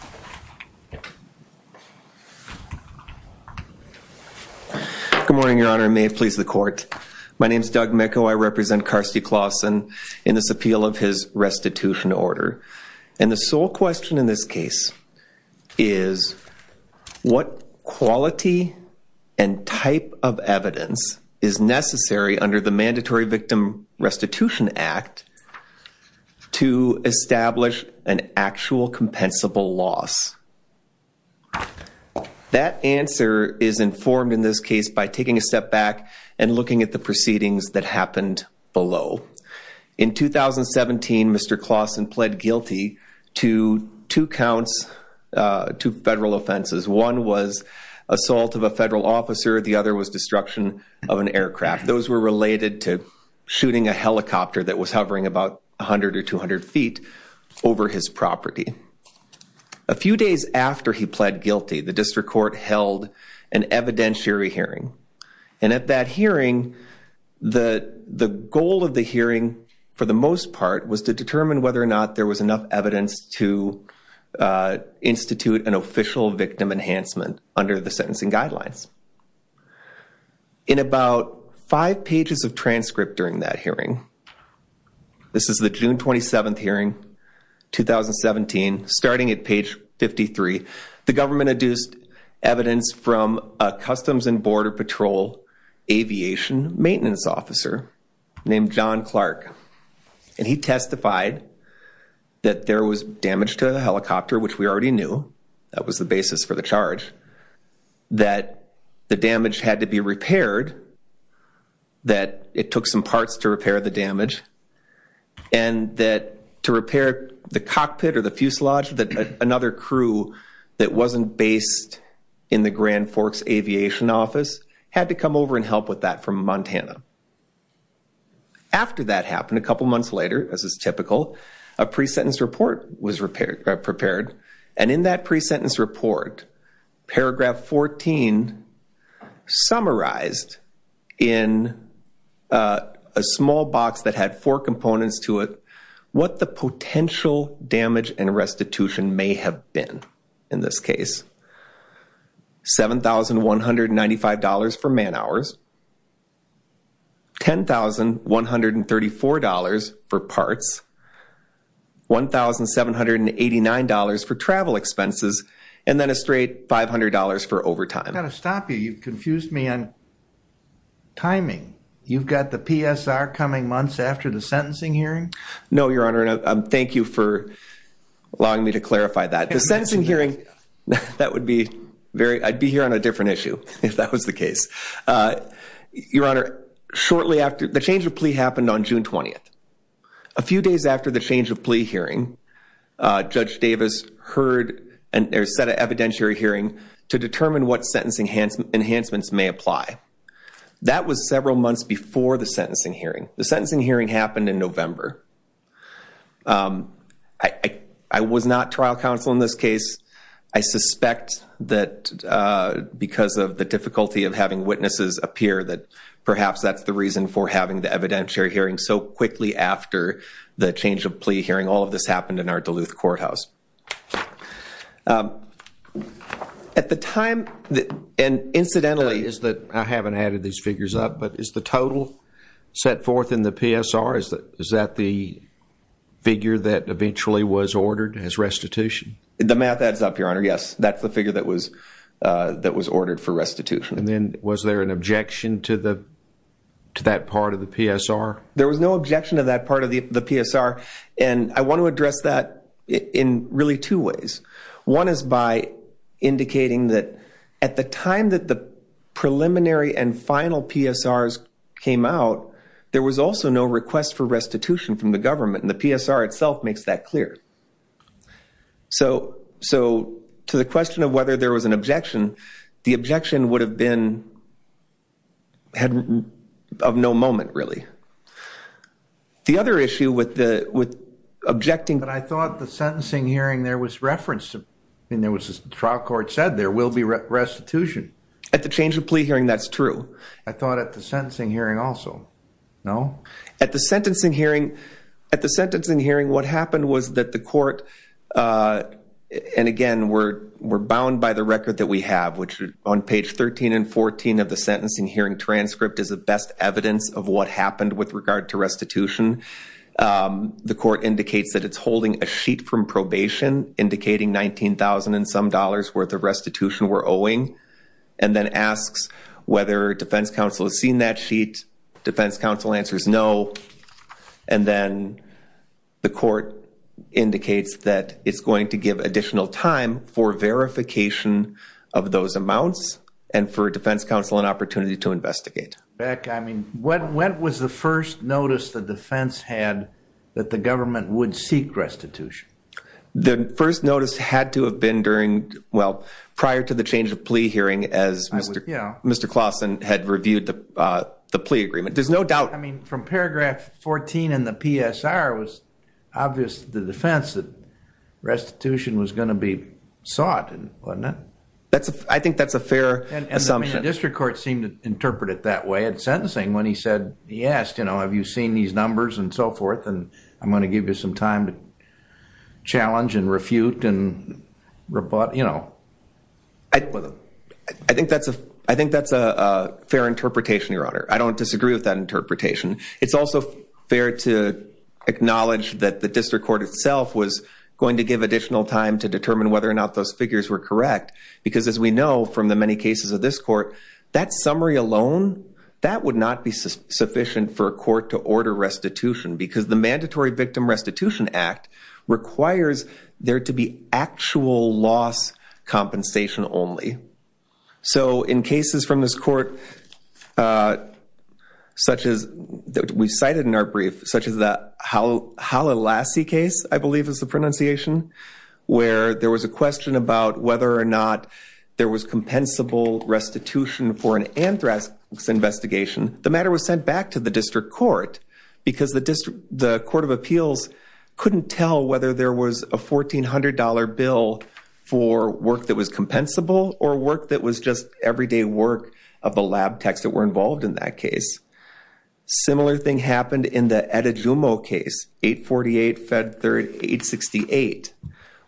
Good morning, Your Honor. May it please the court. My name is Doug Micco. I represent Carstie Clausen in this appeal of his restitution order. And the sole question in this case is what quality and type of evidence is necessary under the Mandatory Victim Restitution Act to establish an actual compensable loss? That answer is informed in this case by taking a step back and looking at the proceedings that happened below. In 2017, Mr. Clausen pled guilty to two counts, two federal offenses. One was assault of a federal officer. The other was destruction of an aircraft. Those were related to shooting a helicopter that was hovering about 100 or 200 feet over his property. A few days after he pled guilty, the district court held an evidentiary hearing. And at that hearing, the goal of the hearing, for the most part, was to determine whether or not there was enough evidence to institute an official victim enhancement under the sentencing guidelines. In about five pages of transcript during that hearing, this is the June 27th hearing, 2017, starting at page 53, the government adduced evidence from a Customs and Border Patrol aviation maintenance officer named John Clark. And he testified that there was damage to the helicopter, which we already knew. That was the basis for the charge. That the damage had to be repaired. That it took some parts to repair the damage. And that to repair the cockpit or the fuselage, that another crew that wasn't based in the Grand Forks Aviation Office had to come over and help with that from Montana. After that happened, a couple months later, as is typical, a pre-sentence report was prepared. And in that pre-sentence report, paragraph 14 summarized in a small box that had four components to it what the potential damage and restitution may have been in this case. $7,195 for man hours. $10,134 for parts. $1,789 for travel expenses. And then a straight $500 for overtime. I've got to stop you. You've confused me on timing. You've got the PSR coming months after the sentencing hearing? No, Your Honor. And thank you for allowing me to clarify that. The sentencing hearing, that would be very, I'd be here on a different issue if that was the case. Your Honor, shortly after, the change of plea happened on June 20th. A few days after the change of plea hearing, Judge Davis heard and there's set an evidentiary hearing to determine what sentencing enhancements may apply. That was several months before the sentencing hearing. The sentencing hearing happened in November. I was not trial counsel in this case. I suspect that because of the difficulty of having witnesses appear, that perhaps that's the reason for having the evidentiary hearing so quickly after the change of plea hearing. All of this happened in our Duluth courthouse. At the time, and incidentally, I haven't added these set forth in the PSR. Is that the figure that eventually was ordered as restitution? The math adds up, Your Honor. Yes, that's the figure that was ordered for restitution. And then was there an objection to that part of the PSR? There was no objection to that part of the PSR. And I want to address that in really two ways. One is by indicating that at the time that the preliminary and final PSRs came out, there was also no request for restitution from the government. And the PSR itself makes that clear. So to the question of whether there was an objection, the objection would have been of no moment, really. The other issue with objecting- I mean, there was a trial court said there will be restitution. At the change of plea hearing, that's true. I thought at the sentencing hearing also. No? At the sentencing hearing, what happened was that the court, and again, we're bound by the record that we have, which on page 13 and 14 of the sentencing hearing transcript is the best evidence of what happened with regard to restitution. The court indicates that it's holding a sheet from probation indicating $19,000 and some dollars worth of restitution we're owing, and then asks whether defense counsel has seen that sheet. Defense counsel answers no. And then the court indicates that it's going to give additional time for verification of those amounts and for defense counsel an opportunity to investigate. Beck, I mean, when was the first notice the defense had that the government would seek restitution? The first notice had to have been during, well, prior to the change of plea hearing as Mr. Clausen had reviewed the plea agreement. There's no doubt- I mean, from paragraph 14 in the PSR, it was obvious to the defense that restitution was going to be sought, wasn't it? I think that's a fair assumption. And the district court seemed to interpret it that way at sentencing when he said, he asked, you know, have you seen these numbers and so forth? And I'm going to give you some time to challenge and refute and rebut, you know. I think that's a fair interpretation, Your Honor. I don't disagree with that interpretation. It's also fair to acknowledge that the district court itself was going to give additional time to determine whether or not those figures were correct. Because as we know from the many cases of this court, that summary alone, that would not be sufficient for a court to order restitution because the Mandatory Victim Restitution Act requires there to be actual loss compensation only. So in cases from this court, such as we cited in our brief, such as the Hala Lassie case, I believe is the pronunciation, where there was a question about whether or not there was compensable restitution for an anthrax investigation. The matter was sent back to the district court because the district, the court of appeals couldn't tell whether there was a $1,400 bill for work that was compensable or work that was just everyday work of the lab techs that were involved in that case. Similar thing happened in the Etta Jumo case, 848 Fed 3868,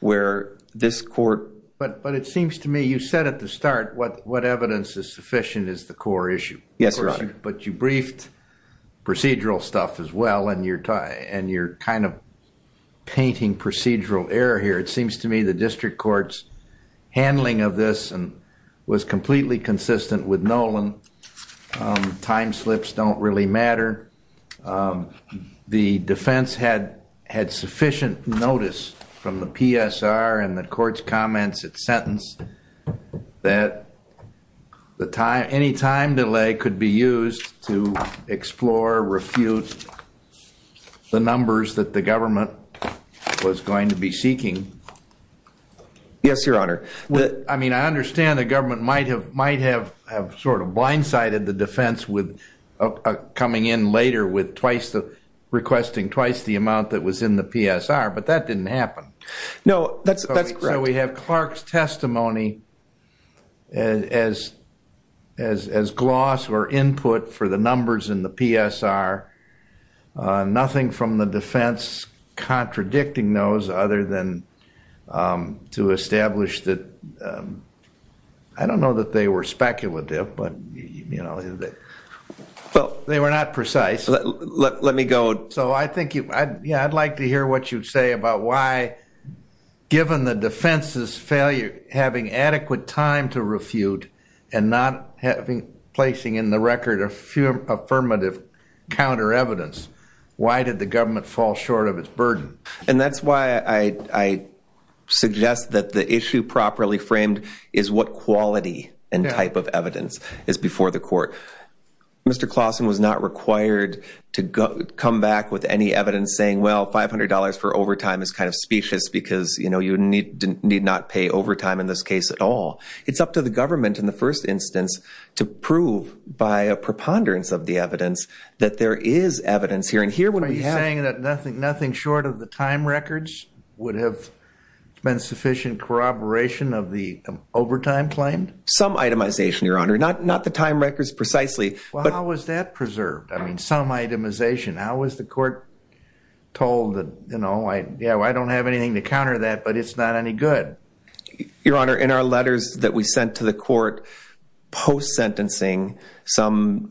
where this court... But it seems to me, you said at the start, what evidence is sufficient is the core issue. Yes, Your Honor. But you briefed procedural stuff as well, and you're kind of painting procedural error here. It seems to me the district court's handling of this was completely consistent with Nolan, and time slips don't really matter. The defense had sufficient notice from the PSR and the court's comments at sentence that any time delay could be used to explore, refute the numbers that the government was going to be seeking. Yes, Your Honor. I mean, I understand the government might have sort of blindsided the defense with coming in later with requesting twice the amount that was in the PSR, but that didn't happen. No, that's correct. So we have Clark's testimony as gloss or input for the numbers in the PSR, nothing from the defense contradicting those other than to establish that... I don't know that they were speculative, but they were not precise. Let me go... So I think I'd like to hear what you'd say about why, given the defense's failure, to refute and not placing in the record a few affirmative counter evidence, why did the government fall short of its burden? And that's why I suggest that the issue properly framed is what quality and type of evidence is before the court. Mr. Clausen was not required to come back with any evidence saying, well, $500 for overtime is kind of specious because you need not pay overtime in this case at all. It's up to the government in the first instance to prove by a preponderance of the evidence that there is evidence here. And here when we have... Are you saying that nothing short of the time records would have been sufficient corroboration of the overtime claim? Some itemization, Your Honor, not the time records precisely. Well, how was that preserved? I mean, some itemization. How was the court told that, you know, I don't have anything to counter that, but it's not any good. Your Honor, in our letters that we sent to the court post-sentencing, some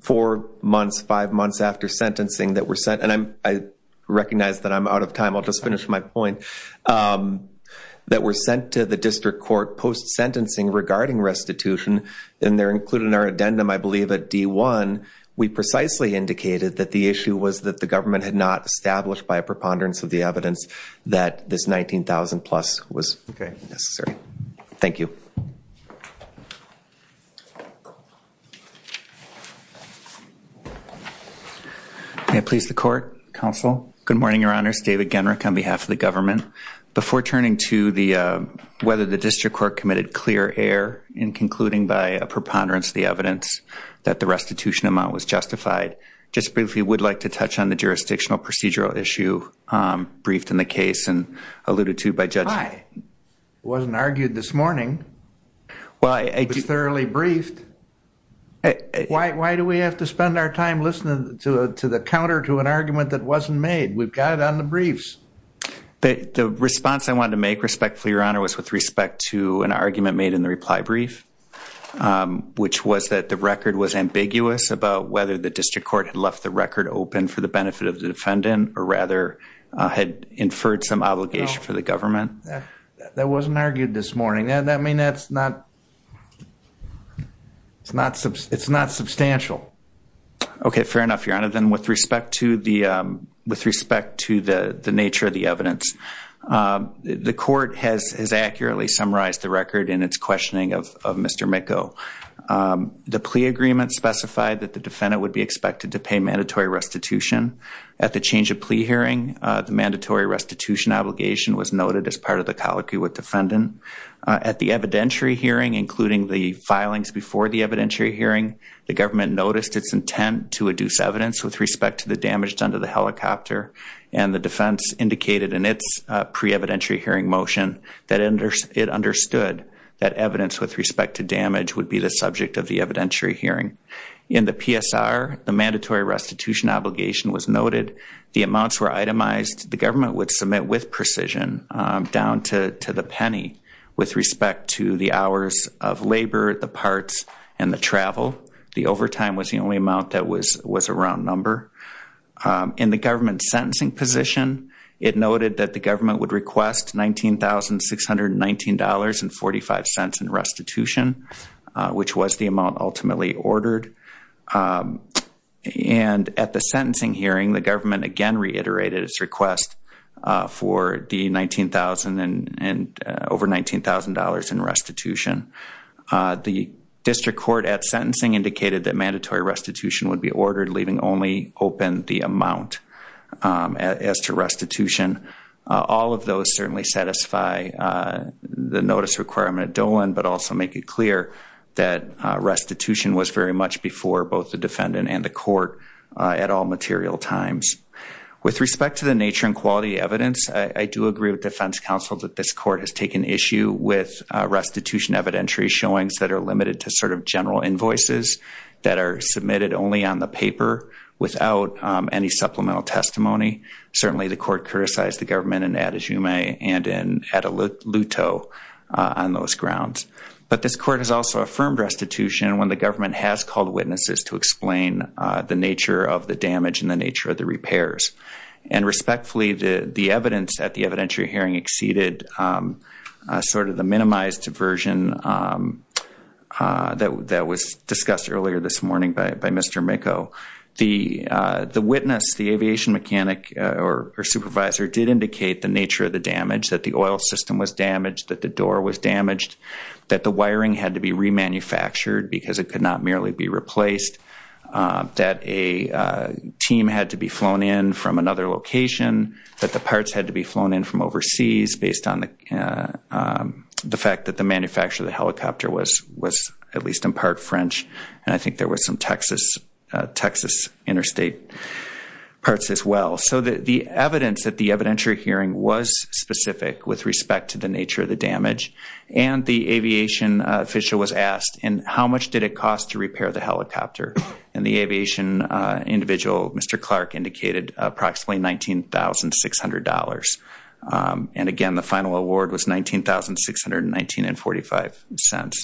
four months, five months after sentencing that were sent, and I recognize that I'm out of time, I'll just finish my point, that were sent to the district court post-sentencing regarding restitution, and they're included in our addendum, I believe at D1, we precisely indicated that the issue was that the government had not established by a preponderance of the evidence that this $19,000-plus was necessary. Thank you. May it please the court, counsel? Good morning, Your Honor. It's David Genrich on behalf of the government. Before turning to whether the district court committed clear error in concluding by a preponderance of the evidence that the restitution amount was justified, just briefly would like to touch on the jurisdictional procedural issue briefed in the case and alluded to by Judge... Why? It wasn't argued this morning. Well, I... It was thoroughly briefed. Why do we have to spend our time listening to the counter to an argument that wasn't made? We've got it on the briefs. The response I wanted to make respectfully, Your Honor, was with respect to an argument made in the reply brief, which was that the record was ambiguous about whether the district court had left the record open for the benefit of the defendant, or rather, had inferred some obligation for the government. That wasn't argued this morning. I mean, that's not... It's not substantial. Okay, fair enough, Your Honor. Then with respect to the nature of the evidence, the court has accurately summarized the record in its questioning of Mr. Micco. The plea agreement specified that the defendant would be expected to pay mandatory restitution. At the change of plea hearing, the mandatory restitution obligation was noted as part of the colloquy with defendant. At the evidentiary hearing, including the filings before the evidentiary hearing, the government noticed its intent to adduce evidence with respect to the damage done to the helicopter, and the defense indicated in its pre-evidentiary motion that it understood that evidence with respect to damage would be the subject of the evidentiary hearing. In the PSR, the mandatory restitution obligation was noted. The amounts were itemized. The government would submit with precision down to the penny with respect to the hours of labor, the parts, and the travel. The overtime was the only amount that was a round number. In the government's sentencing position, it noted that the $19,619.45 in restitution, which was the amount ultimately ordered. And at the sentencing hearing, the government again reiterated its request for the $19,000 and over $19,000 in restitution. The district court at sentencing indicated that mandatory restitution would be ordered, leaving only open the amount as to restitution. All of those certainly satisfy the notice requirement at Dolan, but also make it clear that restitution was very much before both the defendant and the court at all material times. With respect to the nature and quality of evidence, I do agree with defense counsel that this court has taken issue with restitution evidentiary showings that are limited to sort of general invoices that are submitted only on the paper without any supplemental testimony. Certainly, the court criticized the government in Adejume and in Ataluto on those grounds. But this court has also affirmed restitution when the government has called witnesses to explain the nature of the damage and the nature of the repairs. And respectfully, the evidence at the evidentiary hearing exceeded sort of the minimized version that was discussed earlier this morning by Mr. Micco. The witness, the aviation mechanic or supervisor did indicate the nature of the damage, that the oil system was damaged, that the door was damaged, that the wiring had to be remanufactured because it could not merely be replaced, that a team had to be flown in from another location, that the parts had to be flown in from overseas based on the fact that the manufacturer of the helicopter was at least in part French. And I think there was some Texas interstate parts as well. So the evidence at the evidentiary hearing was specific with respect to the nature of the damage. And the aviation official was asked, and how much did it cost to repair the helicopter? And the aviation individual, Mr. Clark, indicated approximately $19,600. And again, the final award was $19,619.45.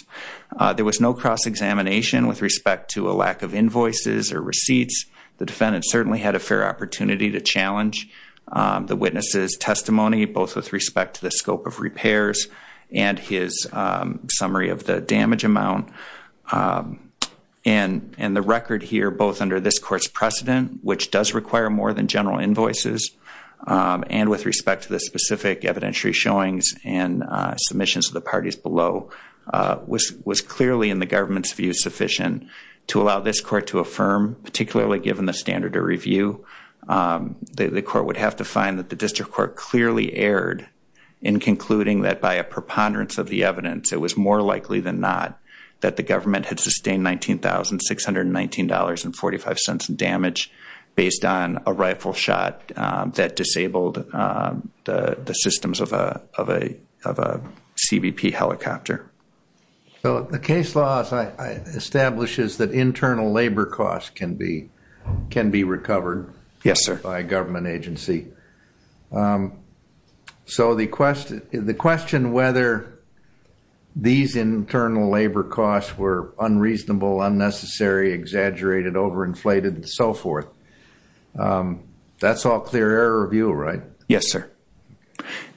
There was no cross-examination with respect to a lack of invoices or receipts. The defendant certainly had a fair opportunity to challenge the witness's testimony, both with respect to the scope of repairs and his summary of the damage amount. And the record here, both under this court's precedent, which does require more than general invoices, and with respect to the was clearly, in the government's view, sufficient to allow this court to affirm, particularly given the standard of review, the court would have to find that the district court clearly erred in concluding that by a preponderance of the evidence, it was more likely than not that the government had sustained $19,619.45 in damage based on a rifle shot that disabled the systems of a CBP helicopter. So the case law establishes that internal labor costs can be recovered by a government agency. So the question whether these internal labor costs were unreasonable, unnecessary, exaggerated, overinflated, and so forth, that's all clear error review, right? Yes, sir.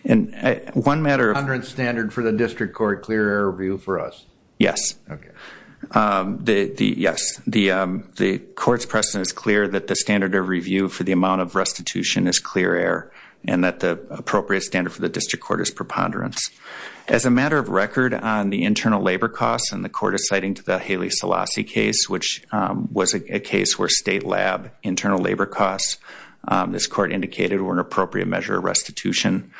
And one matter of... Preponderance standard for the district court, clear error review for us? Yes. Okay. Yes, the court's precedent is clear that the standard of review for the amount of restitution is clear error, and that the appropriate standard for the district court is preponderance. As a matter of record on the internal labor costs, and the court is citing the Haley-Selassie case, which was a case where state lab internal labor costs, this court indicated, were an appropriate measure of restitution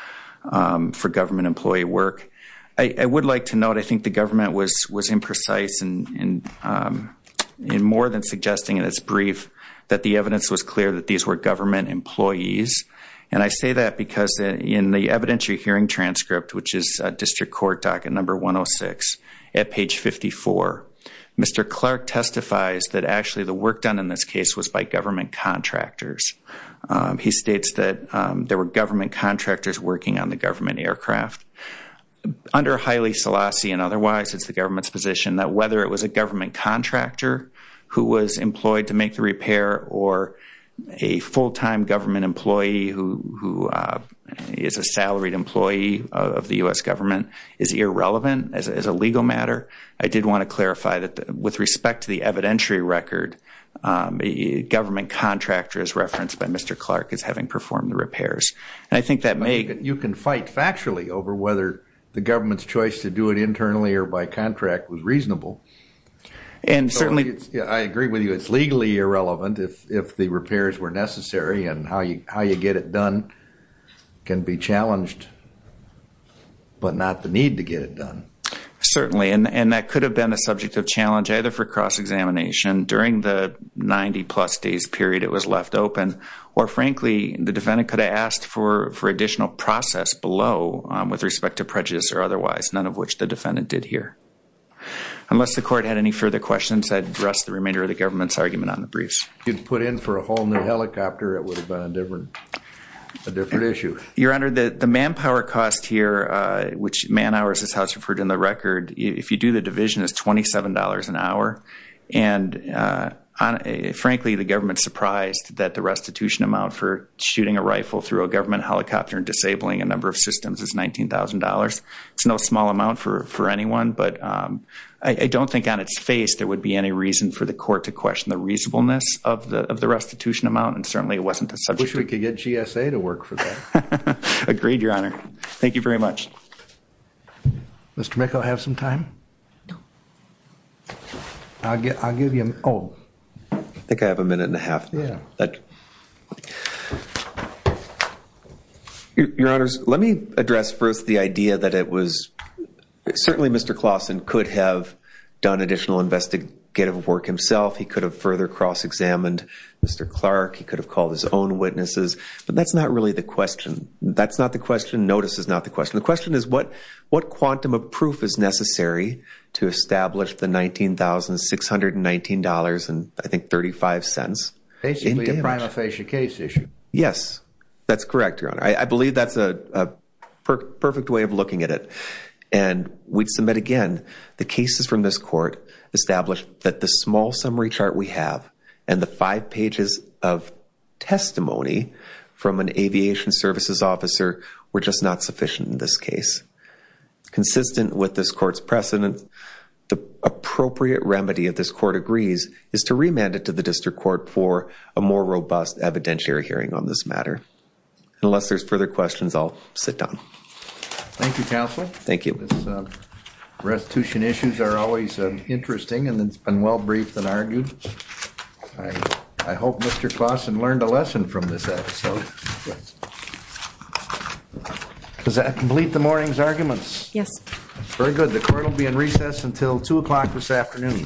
for government employee work. I would like to note, I think the government was imprecise in more than suggesting in its brief that the evidence was clear that these were government employees. And I say that because in the evidentiary hearing transcript, which is district court docket number 106 at page 54, Mr. Clark testifies that actually the work done in this case was by government contractors. He states that there were government contractors working on the government aircraft. Under Haley-Selassie and otherwise, it's the government's position that whether it was a government contractor who was employed to make U.S. government is irrelevant as a legal matter. I did want to clarify that with respect to the evidentiary record, government contractors referenced by Mr. Clark as having performed the repairs. And I think that may... You can fight factually over whether the government's choice to do it internally or by contract was reasonable. And certainly... I agree with you, it's legally irrelevant if the repairs were necessary and how you get it done can be challenged. But not the need to get it done. Certainly. And that could have been a subject of challenge, either for cross-examination during the 90 plus days period it was left open, or frankly, the defendant could have asked for additional process below with respect to prejudice or otherwise, none of which the defendant did here. Unless the court had any further questions, I'd address the remainder of the government's argument on the briefs. You'd put in for a whole new helicopter, it would have been a different issue. Your Honor, the manpower cost here, which man hours is how it's referred in the record, if you do the division is $27 an hour. And frankly, the government's surprised that the restitution amount for shooting a rifle through a government helicopter and disabling a number of systems is $19,000. It's no small amount for anyone, but I don't think on its face, there would be any reason for the court to question the reasonableness of the restitution amount. And certainly it wasn't a subject... I wish we could get GSA to work for that. Agreed, Your Honor. Thank you very much. Mr. Meck, I'll have some time. I'll give you... I think I have a minute and a half. Your Honors, let me address first the idea that it was... Certainly Mr. Clausen could have done additional investigative work himself. He could have further cross-examined Mr. Clark. He could have called his own witnesses, but that's not really the question. That's not the question. Notice is not the question. The question is what quantum of proof is necessary to establish the $19,619.35 in damage? Basically a prima facie case issue. Yes, that's correct, Your Honor. I believe that's a perfect way of looking at it. And we'd submit again, the cases from this court established that the small summary chart we have and the five pages of testimony from an aviation services officer were just not sufficient in this case. Consistent with this court's precedent, the appropriate remedy that this court agrees is to remand it to the district court for a more robust evidentiary hearing on this matter. Unless there's further questions, I'll sit down. Thank you, counsel. Thank you. Restitution issues are always interesting and it's been well briefed and argued. I hope Mr. Claussen learned a lesson from this episode. Does that complete the morning's arguments? Yes. Very good. The court will be in recess until two o'clock this afternoon.